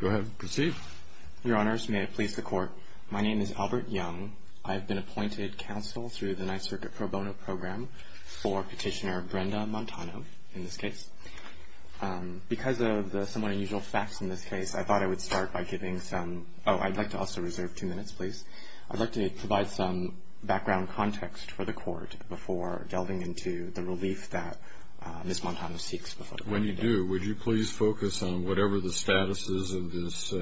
Your Honors, may I please the Court. My name is Albert Young. I have been appointed counsel through the Ninth Circuit Pro Bono Program for Petitioner Brenda Montano, in this case. Because of the somewhat unusual facts in this case, I thought I would start by giving some – oh, I'd like to also reserve two minutes, please. I'd like to provide some background context for the Court before delving into the relief that Ms. Montano seeks before the Court. And when you do, would you please focus on whatever the status is of this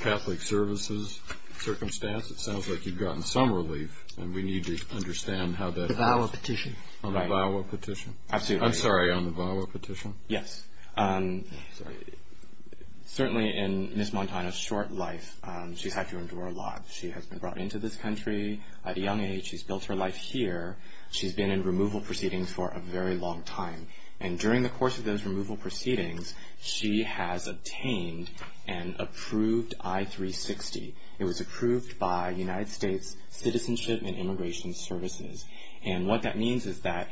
Catholic Services circumstance? It sounds like you've gotten some relief, and we need to understand how that – The VAWA petition. On the VAWA petition? Absolutely. I'm sorry, on the VAWA petition? Yes. Certainly in Ms. Montano's short life, she's had to endure a lot. She has been brought into this country at a young age. She's built her life here. She's been in removal proceedings for a very long time. And during the course of those removal proceedings, she has obtained an approved I-360. It was approved by United States Citizenship and Immigration Services. And what that means is that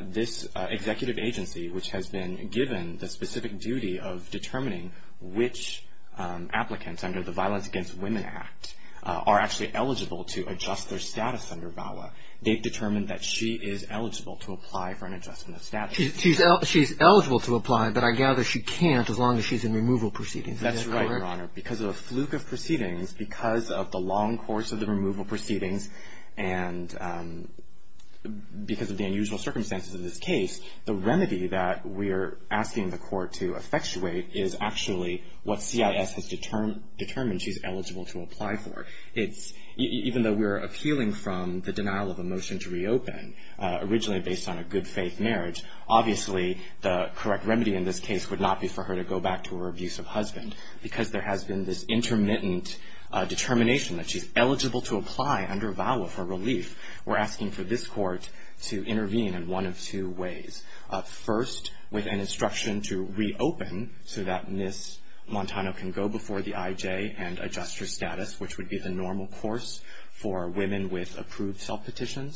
this executive agency, which has been given the specific duty of determining which applicants under the Violence Against Women Act are actually eligible to adjust their status under VAWA, they've determined that she is eligible to apply for an adjustment of status. She's eligible to apply, but I gather she can't as long as she's in removal proceedings. Is that correct? That's right, Your Honor. Because of a fluke of proceedings, because of the long course of the removal proceedings, and because of the unusual circumstances of this case, the remedy that we're asking the Court to effectuate is actually what CIS has determined she's originally based on a good-faith marriage. Obviously, the correct remedy in this case would not be for her to go back to her abusive husband. Because there has been this intermittent determination that she's eligible to apply under VAWA for relief, we're asking for this Court to intervene in one of two ways. First, with an instruction to reopen so that Ms. Montano can go before the IJ and adjust her status, which would be the normal course for her.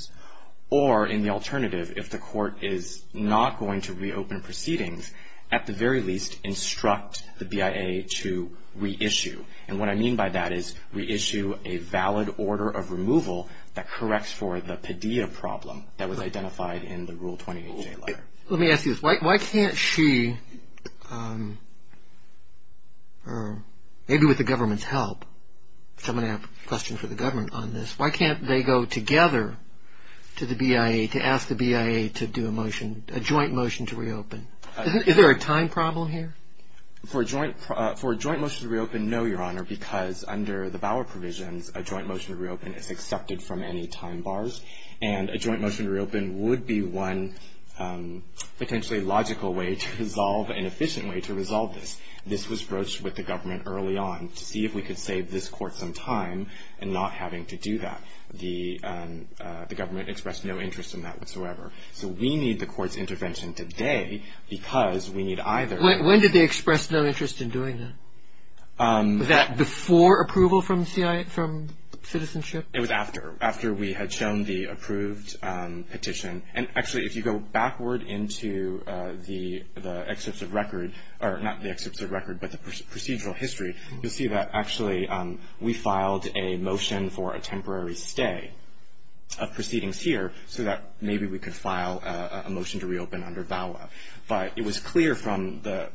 Or in the alternative, if the Court is not going to reopen proceedings, at the very least, instruct the BIA to reissue. And what I mean by that is reissue a valid order of removal that corrects for the Padilla problem that was identified in the Rule 28J letter. Let me ask you this. Why can't she, maybe with the government's help, because I'm going to ask the BIA to do a motion, a joint motion to reopen. Is there a time problem here? For a joint motion to reopen, no, Your Honor, because under the VAWA provisions, a joint motion to reopen is accepted from any time bars. And a joint motion to reopen would be one potentially logical way to resolve, an efficient way to resolve this. This was broached with the government early on to see if we could save this Court some time in not having to do that. The government expressed no interest in that whatsoever. So we need the Court's intervention today because we need either. When did they express no interest in doing that? Was that before approval from the CIA, from citizenship? It was after. After we had shown the approved petition. And actually, if you go backward into the excerpts of record, or not the excerpts of record, but the procedural history, you'll see that actually we filed a motion for a temporary stay of proceedings here so that maybe we could file a motion to reopen under VAWA. But it was clear from the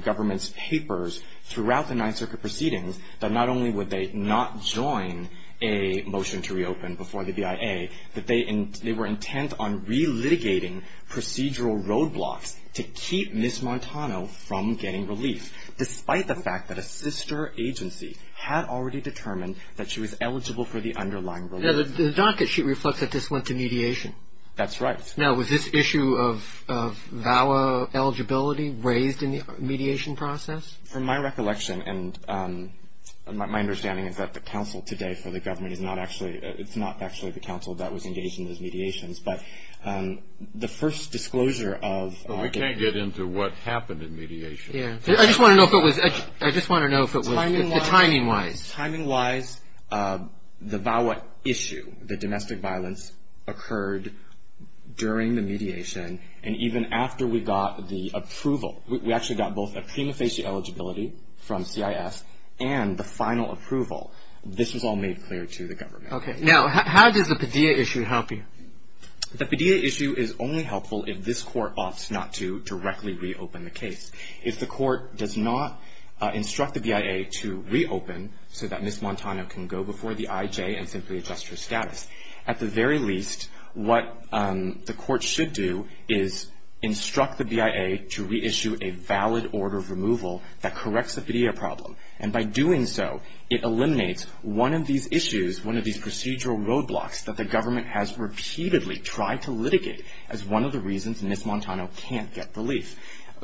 government's papers throughout the Ninth Circuit proceedings that not only would they not join a motion to reopen before the BIA, that they were intent on relitigating procedural roadblocks to keep Ms. Montano from getting relief, despite the fact that a sister agency had already determined that she was eligible for the underlying relief. Now, the docket sheet reflects that this went to mediation. That's right. Now, was this issue of VAWA eligibility raised in the mediation process? From my recollection, and my understanding is that the counsel today for the government is not actually, it's not actually the counsel that was engaged in those mediations, but the first disclosure of... I can't get into what happened in mediation. Yeah. I just want to know if it was, I just want to know if it was, timing-wise. Timing-wise, the VAWA issue, the domestic violence, occurred during the mediation, and even after we got the approval. We actually got both a prima facie eligibility from CIS and the final approval. This was all made clear to the government. Okay. Now, how does the Padilla issue help you? The Padilla issue is only helpful if this court opts not to directly reopen the case. If the court does not instruct the BIA to reopen so that Ms. Montano can go before the IJ and simply adjust her status, at the very least, what the court should do is instruct the BIA to reissue a valid order of removal that corrects the Padilla problem. And by doing so, it eliminates one of these issues, one of these procedural roadblocks that the government has repeatedly tried to litigate as one of the reasons Ms. Montano can't get relief.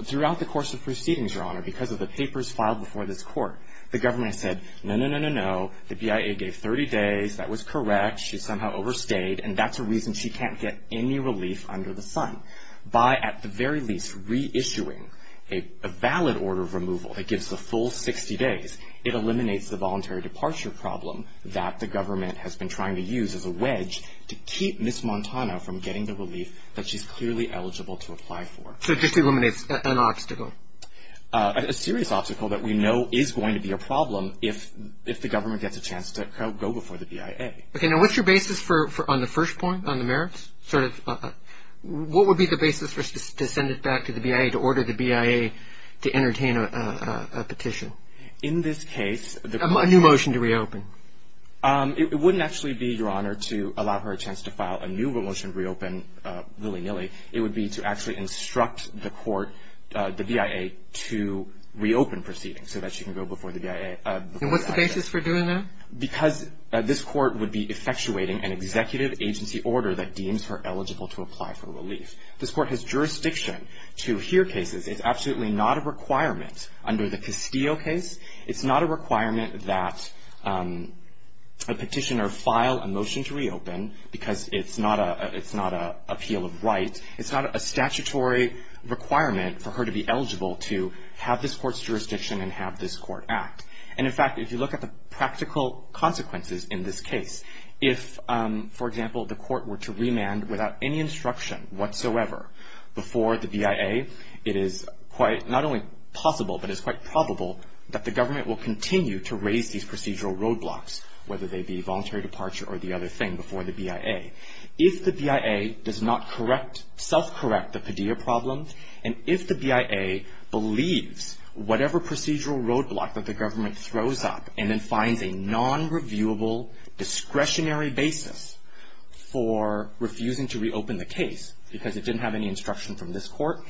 Throughout the course of proceedings, Your Honor, because of the papers filed before this court, the government said, no, no, no, no, no. The BIA gave 30 days. That was correct. She somehow overstayed. And that's a reason she can't get any relief under the sun. By, at the very least, reissuing a valid order of removal that gives the full 60 days, it eliminates the voluntary departure problem that the government has been trying to use as a wedge to keep Ms. Montano from getting the relief that she's clearly eligible to apply for. So it just eliminates an obstacle? A serious obstacle that we know is going to be a problem if the government gets a chance to go before the BIA. Okay. Now, what's your basis for, on the first point, on the merits, sort of, what would be the basis for us to send it back to the BIA to order the BIA to entertain a petition? In this case... A new motion to reopen. It wouldn't actually be, Your Honor, to allow her a chance to file a new motion to reopen willy-nilly. It would be to actually instruct the court, the BIA, to reopen proceedings so that she can go before the BIA. And what's the basis for doing that? Because this court would be effectuating an executive agency order that deems her eligible to apply for relief. This court has jurisdiction to hear cases. It's absolutely not a requirement under the Castillo case. It's not a requirement that a petitioner file a motion to reopen because it's not an appeal of right. It's not a statutory requirement for her to be eligible to have this court's jurisdiction and have this court act. And in fact, if you look at the practical consequences in this case, if, for example, the court were to remand without any instruction whatsoever before the BIA, it is quite not only possible, but it's quite probable that the government will continue to raise these procedural roadblocks, whether they be voluntary departure or the other thing, before the BIA. If the BIA does not correct, self-correct the Padilla problem, and if the BIA believes whatever procedural roadblock that the government throws up and then finds a non-reviewable discretionary basis for refusing to reopen the case because it didn't have any instruction from this court,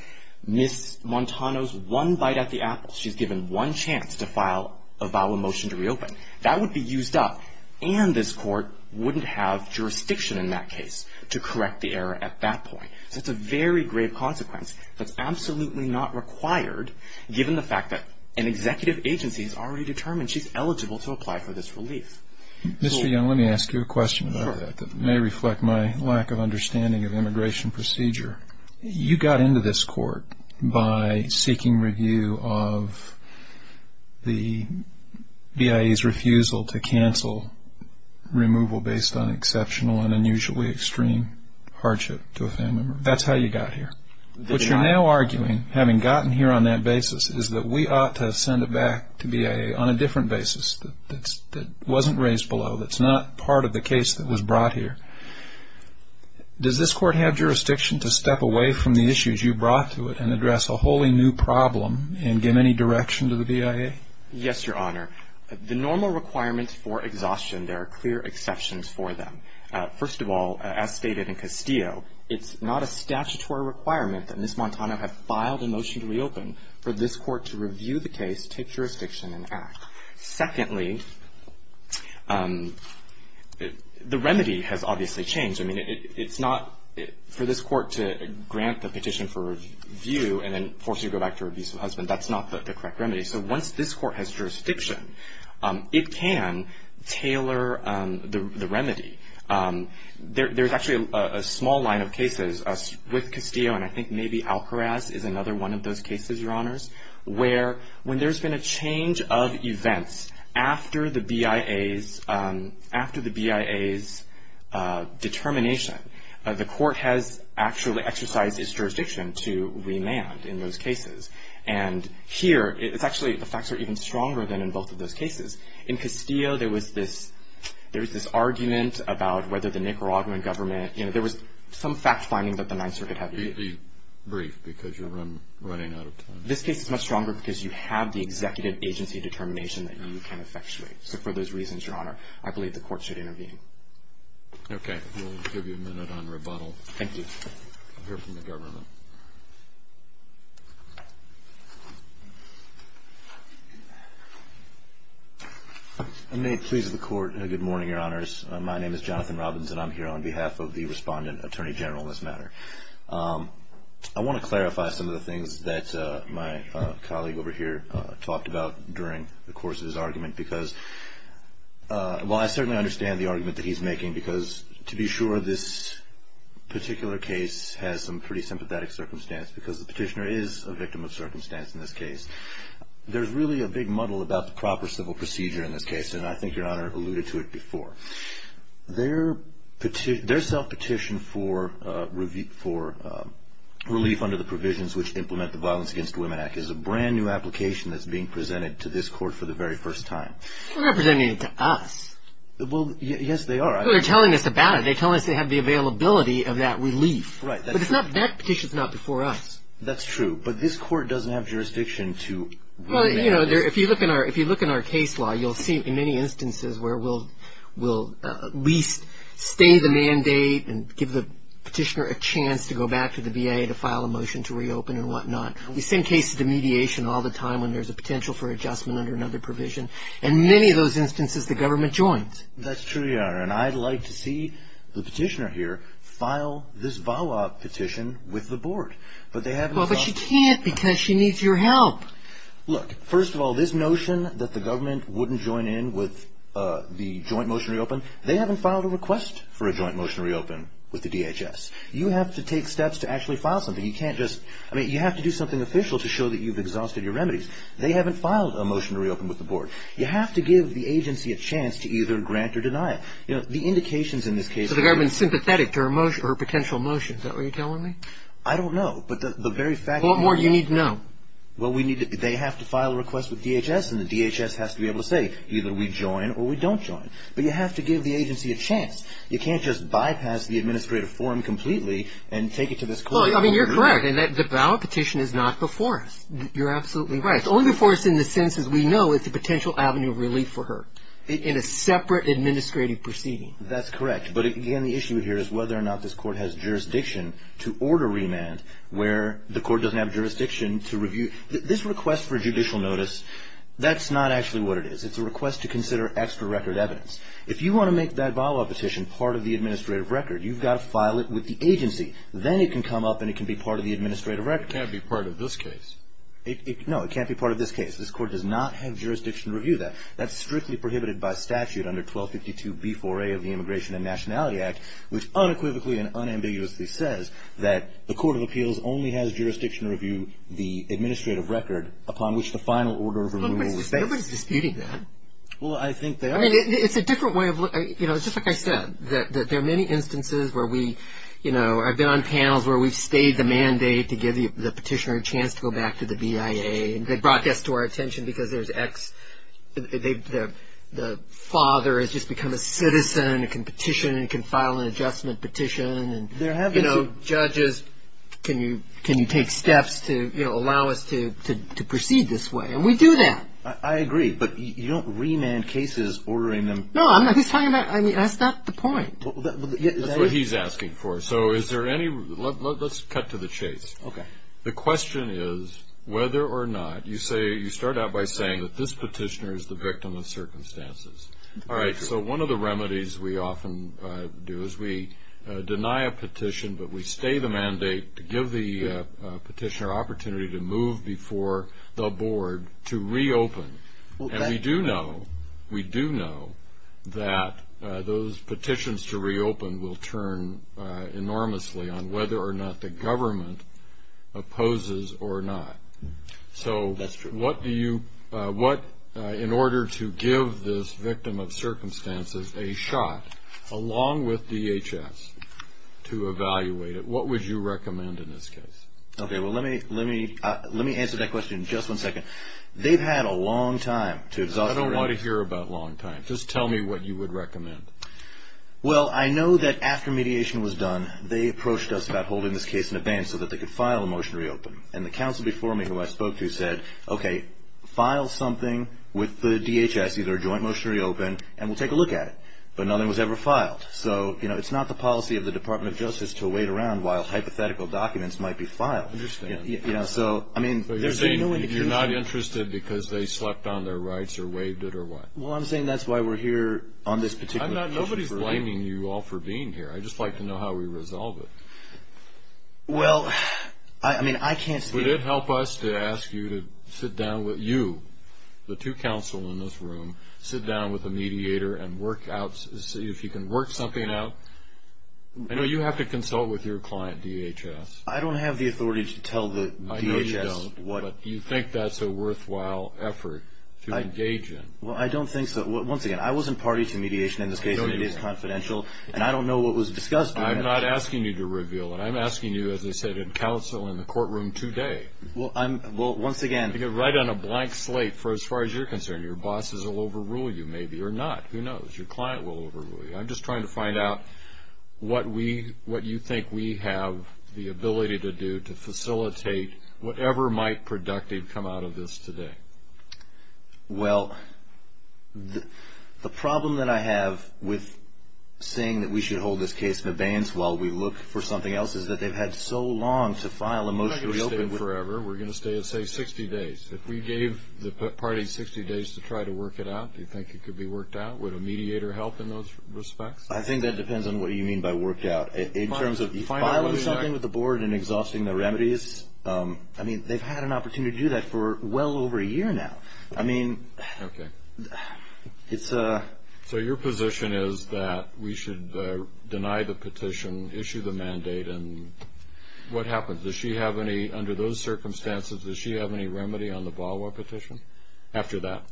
Ms. Montano's one bite at the apple. She's given one chance to file a vial motion to reopen. That would be used up, and this court wouldn't have jurisdiction in that case to correct the error at that point. So it's a very grave consequence that's absolutely not required given the fact that an executive agency has already determined she's eligible to apply for this relief. Mr. Young, let me ask you a question about that that may reflect my lack of understanding of immigration procedure. You got into this court by seeking review of the BIA's refusal to cancel removal based on exceptional and unusually extreme hardship to a family member. That's how you got here. What you're now arguing, having gotten here on that basis, is that we ought to send it back to BIA on a different basis that wasn't raised below, that's not part of the case that was brought here. Does this court have jurisdiction to step away from the issues you brought to it and address a wholly new problem and give any direction to the BIA? Yes, Your Honor. The normal requirements for exhaustion, there are clear exceptions for them. First of all, as stated in Castillo, it's not a statutory requirement that Ms. Montano have filed a motion to reopen for this court to review the case, take jurisdiction and act. Secondly, the remedy has obviously changed. I mean, it's not for this court to grant the petition for review and then force you to go back to review some husband. That's not the correct remedy. So once this court has jurisdiction, it can tailor the remedy. There's actually a small line of cases with Castillo, and I think maybe Alcaraz is another of those cases, Your Honors, where when there's been a change of events after the BIA's determination, the court has actually exercised its jurisdiction to remand in those cases. And here, it's actually, the facts are even stronger than in both of those cases. In Castillo, there was this argument about whether the Nicaraguan government, you know, there was some fact finding that the Ninth Circuit had to be briefed because you're running out of time. This case is much stronger because you have the executive agency determination that you can effectuate. So for those reasons, Your Honor, I believe the court should intervene. Okay. We'll give you a minute on rebuttal. Thank you. I'll hear from the government. May it please the court. Good morning, Your Honors. My name is Jonathan Robbins, and I'm here on behalf of the Respondent Attorney General in this matter. I want to clarify some of the things that my colleague over here talked about during the course of his argument because, well, I certainly understand the argument that he's making because, to be sure, this particular case has some pretty sympathetic circumstance because the petitioner is a victim of circumstance in this case. There's really a big muddle about the proper civil procedure in this case, and I think Your Honor alluded to it before. Their self-petition for relief under the provisions which implement the Violence Against Women Act is a brand new application that's being presented to this court for the very first time. They're not presenting it to us. Well, yes, they are. They're telling us about it. They're telling us they have the availability of that relief. Right. But that petition's not before us. Well, you know, if you look in our case law, you'll see in many instances where we'll at least stay the mandate and give the petitioner a chance to go back to the VA to file a motion to reopen and whatnot. The same case of the mediation all the time when there's a potential for adjustment under another provision. In many of those instances, the government joins. That's true, Your Honor, and I'd like to see the petitioner here file this VAWA petition with the board, but they haven't filed it. Well, but she can't because she needs your help. Look, first of all, this notion that the government wouldn't join in with the joint motion to reopen, they haven't filed a request for a joint motion to reopen with the DHS. You have to take steps to actually file something. You can't just, I mean, you have to do something official to show that you've exhausted your remedies. They haven't filed a motion to reopen with the board. You have to give the agency a chance to either grant or deny it. You know, the indications in this case... So the government's sympathetic to her potential motion, is that what you're telling me? I don't know, but the very fact... What more do you need to know? Well, they have to file a request with DHS, and the DHS has to be able to say either we join or we don't join. But you have to give the agency a chance. You can't just bypass the administrative form completely and take it to this court. Well, I mean, you're correct in that the VAWA petition is not before us. You're absolutely right. It's only before us in the sense, as we know, it's a potential avenue of relief for her in a separate administrative proceeding. That's correct, but again, the issue here is whether or not this court has jurisdiction to order remand where the court doesn't have jurisdiction to review... This request for judicial notice, that's not actually what it is. It's a request to consider extra record evidence. If you want to make that VAWA petition part of the administrative record, you've got to file it with the agency. Then it can come up and it can be part of the administrative record. It can't be part of this case. No, it can't be part of this case. This court does not have jurisdiction to review that. That's strictly prohibited by statute under 1252B4A of the Immigration and Nationality Act, which unequivocally and unambiguously says that the Court of Appeals only has jurisdiction to review the administrative record upon which the final order of remand was based. Nobody's disputing that. Well, I think they are. I mean, it's a different way of looking... It's just like I said. There are many instances where we... I've been on panels where we've stayed the mandate to give the petitioner a chance to go back to the BIA. They brought this to our attention because there's ex... The father has just become a citizen. It can petition. It can file an adjustment petition. Judges, can you take steps to allow us to proceed this way? And we do that. I agree, but you don't remand cases ordering them... No, I'm not... He's talking about... I mean, that's not the point. That's what he's asking for. So is there any... Let's cut to the chase. The question is whether or not... You say... You start out by saying that this petitioner is the victim of circumstances. All right, so one of the remedies we often do is we deny a petition, but we stay the mandate to give the petitioner an opportunity to move before the board to reopen. And we do know that those petitions to reopen will turn enormously on whether or not the government opposes or not. So what do you... In order to give this victim of circumstances a shot along with DHS to evaluate it, what would you recommend in this case? Okay, well, let me answer that question in just one second. They've had a long time to... I don't want to hear about long time. Just tell me what you would recommend. Well, I know that after mediation was done, they approached us about holding this case in abeyance so that they could file a motion to reopen. And the counsel before me, who I spoke to, said, okay, file something with the DHS, either a joint motion to reopen, and we'll take a look at it. But nothing was ever filed. So, you know, it's not the policy of the Department of Justice to wait around while hypothetical documents might be filed. I understand. Yeah, so, I mean... But you're saying you're not interested because they slept on their rights or waived it or what? Well, I'm saying that's why we're here on this particular petition for... Well, I mean, I can't speak... Would it help us to ask you to sit down with you, the two counsel in this room, sit down with a mediator and work out, see if you can work something out? I know you have to consult with your client, DHS. I don't have the authority to tell the DHS what... I know you don't, but do you think that's a worthwhile effort to engage in? Well, I don't think so. Once again, I wasn't party to mediation in this case. I don't either. It is confidential, and I don't know what was discussed during it. I'm not asking you to reveal it. I'm asking you, as I said, in counsel in the courtroom today... Well, I'm... Well, once again... To get right on a blank slate, for as far as you're concerned, your bosses will overrule you, maybe, or not. Who knows? Your client will overrule you. I'm just trying to find out what we... what you think we have the ability to do to facilitate whatever might productive come out of this today. Well, the problem that I have with saying that we should hold this case in abeyance while we look for something else is that they've had so long to file a motion to reopen... We're not going to stay forever. We're going to stay, say, 60 days. If we gave the party 60 days to try to work it out, do you think it could be worked out? Would a mediator help in those respects? I think that depends on what you mean by worked out. In terms of filing something with the board and exhausting the remedies, I mean, they've had an opportunity to do that for well over a year now. I mean... Okay. So your position is that we should deny the petition, issue the mandate, and what happens? Does she have any, under those circumstances, does she have any remedy on the VAWA petition after that?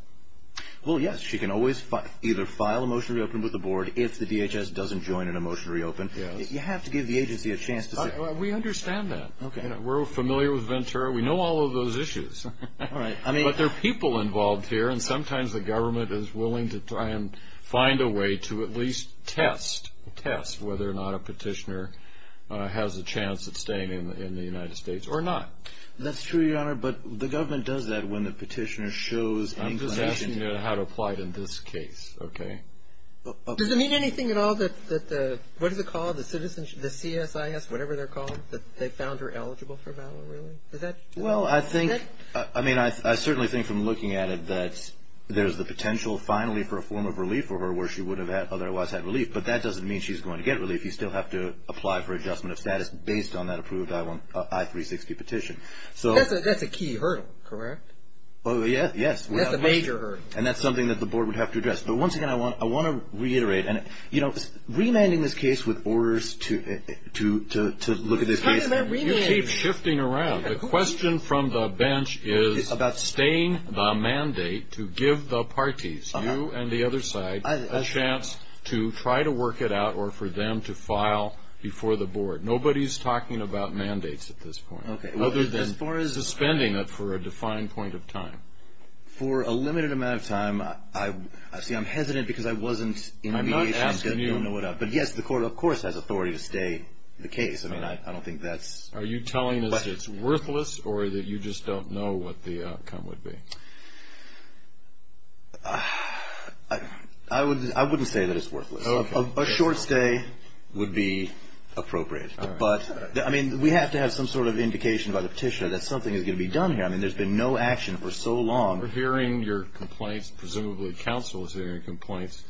Well, yes. She can always either file a motion to reopen with the board if the DHS doesn't join in a motion to reopen. You have to give the agency a chance to say... We understand that. We're familiar with Ventura. We know all of those issues. But there are people involved here, and sometimes the government is willing to try and find a way to at least test whether or not a petitioner has a chance of staying in the United States or not. That's true, Your Honor, but the government does that when the petitioner shows any... I'm just asking you how to apply it in this case, okay? Does it mean anything at all that the... What is it called? The CSIS, whatever they're called, that they found her eligible for VAWA, really? Well, I think, I mean, I certainly think from looking at it that there's the potential finally for a form of relief for her where she would have otherwise had relief, but that doesn't mean she's going to get relief. You still have to apply for adjustment of status based on that approved I-360 petition. That's a key hurdle, correct? Yes, yes. That's a major hurdle. And that's something that the board would have to address. But once again, I want to reiterate, and remanding this case with orders to look at this case... The question from the bench is about staying the mandate to give the parties, you and the other side, a chance to try to work it out or for them to file before the board. Nobody's talking about mandates at this point, other than suspending it for a defined point of time. For a limited amount of time, I see I'm hesitant because I wasn't... I'm not asking you. But yes, the court, of course, has authority to stay the case. I mean, I don't think that's... Are you telling us it's worthless, or that you just don't know what the outcome would be? I wouldn't say that it's worthless. A short stay would be appropriate. But, I mean, we have to have some sort of indication by the petitioner that something is going to be done here. I mean, there's been no action for so long... We're hearing your complaints, presumably counsel is hearing your complaints.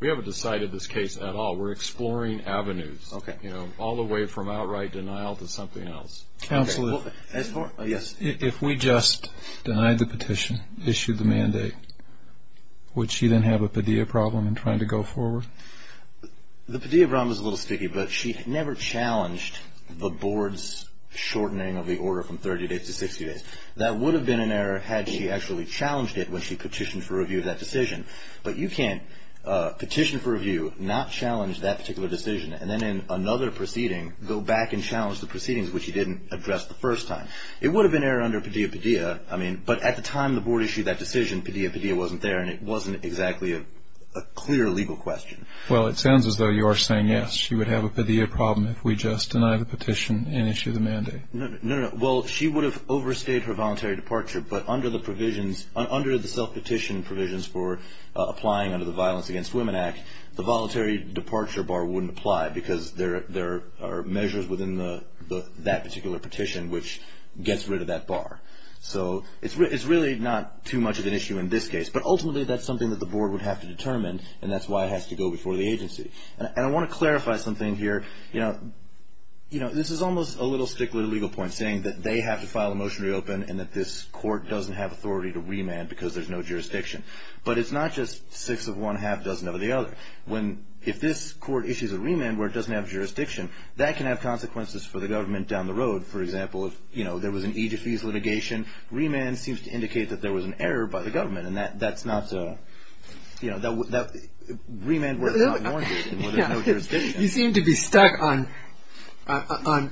We haven't decided this case at all. We're exploring avenues, you know, all the way from outright denial to something else. Counsel, if we just denied the petition, issued the mandate, would she then have a Padilla problem in trying to go forward? The Padilla problem is a little sticky, but she never challenged the board's shortening of the order from 30 days to 60 days. That would have been an error had she actually challenged it when she petitioned for review of that decision. But you can't petition for review, not challenge that particular decision, and then in another proceeding, go back and challenge the proceedings, which you didn't address the first time. It would have been error under Padilla-Padilla, I mean, but at the time the board issued that decision, Padilla-Padilla wasn't there, and it wasn't exactly a clear legal question. Well, it sounds as though you are saying, yes, she would have a Padilla problem if we just denied the petition and issued the mandate. No, no, no. Well, she would have overstayed her voluntary departure, but under the provisions, under the self-petition provisions for applying under the Violence Against Women Act, the particular petition, which gets rid of that bar. So it's really not too much of an issue in this case, but ultimately that's something that the board would have to determine, and that's why it has to go before the agency. And I want to clarify something here. You know, this is almost a little stickler to legal points, saying that they have to file a motion to reopen and that this court doesn't have authority to remand because there's no jurisdiction. But it's not just six of one half doesn't have the other. If this court issues a remand where it doesn't have jurisdiction, that can have consequences for the government down the road. For example, if, you know, there was an Egyptese litigation, remand seems to indicate that there was an error by the government, and that's not a, you know, remand works out more than what a no-jurisdiction. You seem to be stuck on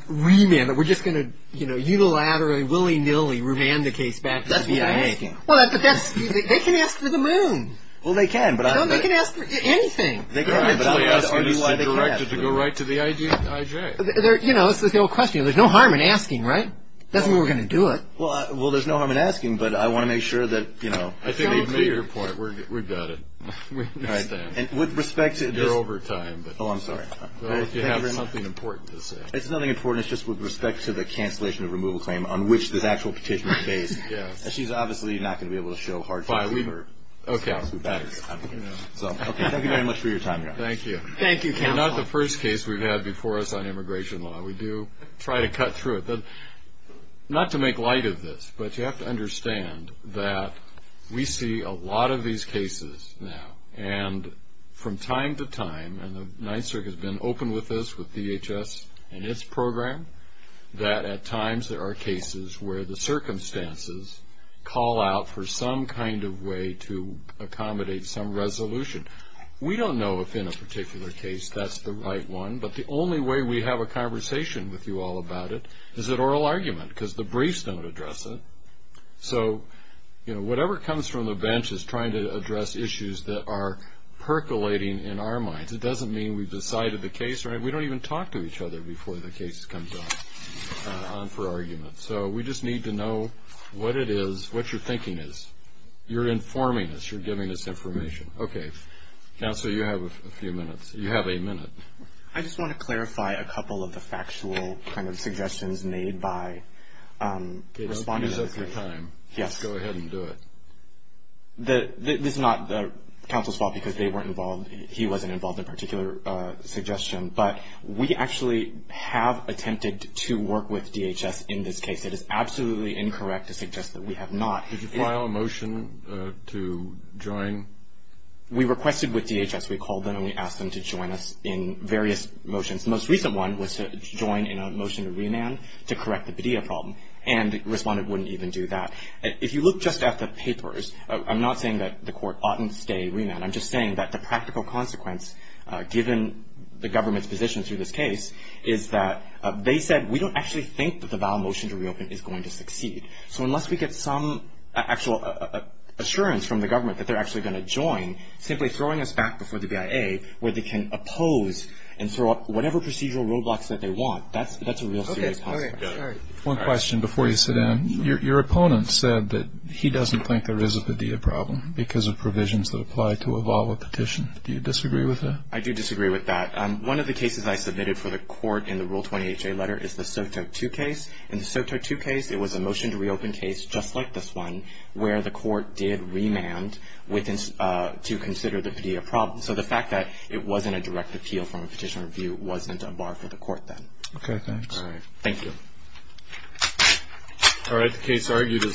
remand, that we're just going to, you know, unilaterally, willy-nilly remand the case back to the FBI. That's what I'm making. Well, but that's, they can ask for the moon. Well, they can, but I'm not... No, they can ask for anything. They can ask, but I don't know why they can ask. To go right to the IJ. You know, this is the whole question. There's no harm in asking, right? That's the way we're going to do it. Well, there's no harm in asking, but I want to make sure that, you know... I think they've made your point. We've got it. With respect to... You're over time, but... Oh, I'm sorry. You have something important to say. It's nothing important. It's just with respect to the cancellation of removal claim on which this actual petition is based. She's obviously not going to be able to show hard facts. Okay. Thank you very much for your time. Thank you. Thank you, counsel. We're not the first case we've had before us on immigration law. We do try to cut through it. Not to make light of this, but you have to understand that we see a lot of these cases now, and from time to time, and the Ninth Circuit has been open with this, with DHS and its program, that at times there are cases where the circumstances call out for some kind of way to accommodate some resolution. We don't know if in a particular case that's the right one, but the only way we have a conversation with you all about it is at oral argument because the briefs don't address it. So, you know, whatever comes from the bench is trying to address issues that are percolating in our minds. It doesn't mean we've decided the case. We don't even talk to each other before the case comes on for you to know what it is, what your thinking is. You're informing us. You're giving us information. Okay. Counsel, you have a few minutes. You have a minute. I just want to clarify a couple of the factual kind of suggestions made by respondents. It's your time. Yes. Go ahead and do it. This is not counsel's fault because they weren't involved. He wasn't involved in a particular suggestion, but we actually have attempted to work with DHS in this case. It is absolutely incorrect to suggest that we have not. Did you file a motion to join? We requested with DHS. We called them and we asked them to join us in various motions. The most recent one was to join in a motion to remand to correct the Padilla problem, and the respondent wouldn't even do that. If you look just at the papers, I'm not saying that the court oughtn't stay remand. I'm just saying that the practical consequence, given the government's position through this case, is that they said, we don't actually think that the vow motion to reopen is going to succeed. So unless we get some actual assurance from the government that they're actually going to join, simply throwing us back before the BIA where they can oppose and throw up whatever procedural roadblocks that they want, that's a real serious consequence. One question before you sit down. Your opponent said that he doesn't think there is a Padilla problem because of provisions that apply to a vow or petition. Do you disagree with that? I do disagree with that. One of the cases I submitted for the court in the Rule 20HA letter is the SOTO2 case. In the SOTO2 case, it was a motion to reopen case just like this one where the court did remand to consider the Padilla problem. So the fact that it wasn't a direct appeal from a petition review wasn't a bar for the court then. Okay. Thanks. All right. Thank you. All right. The case argued as submitted.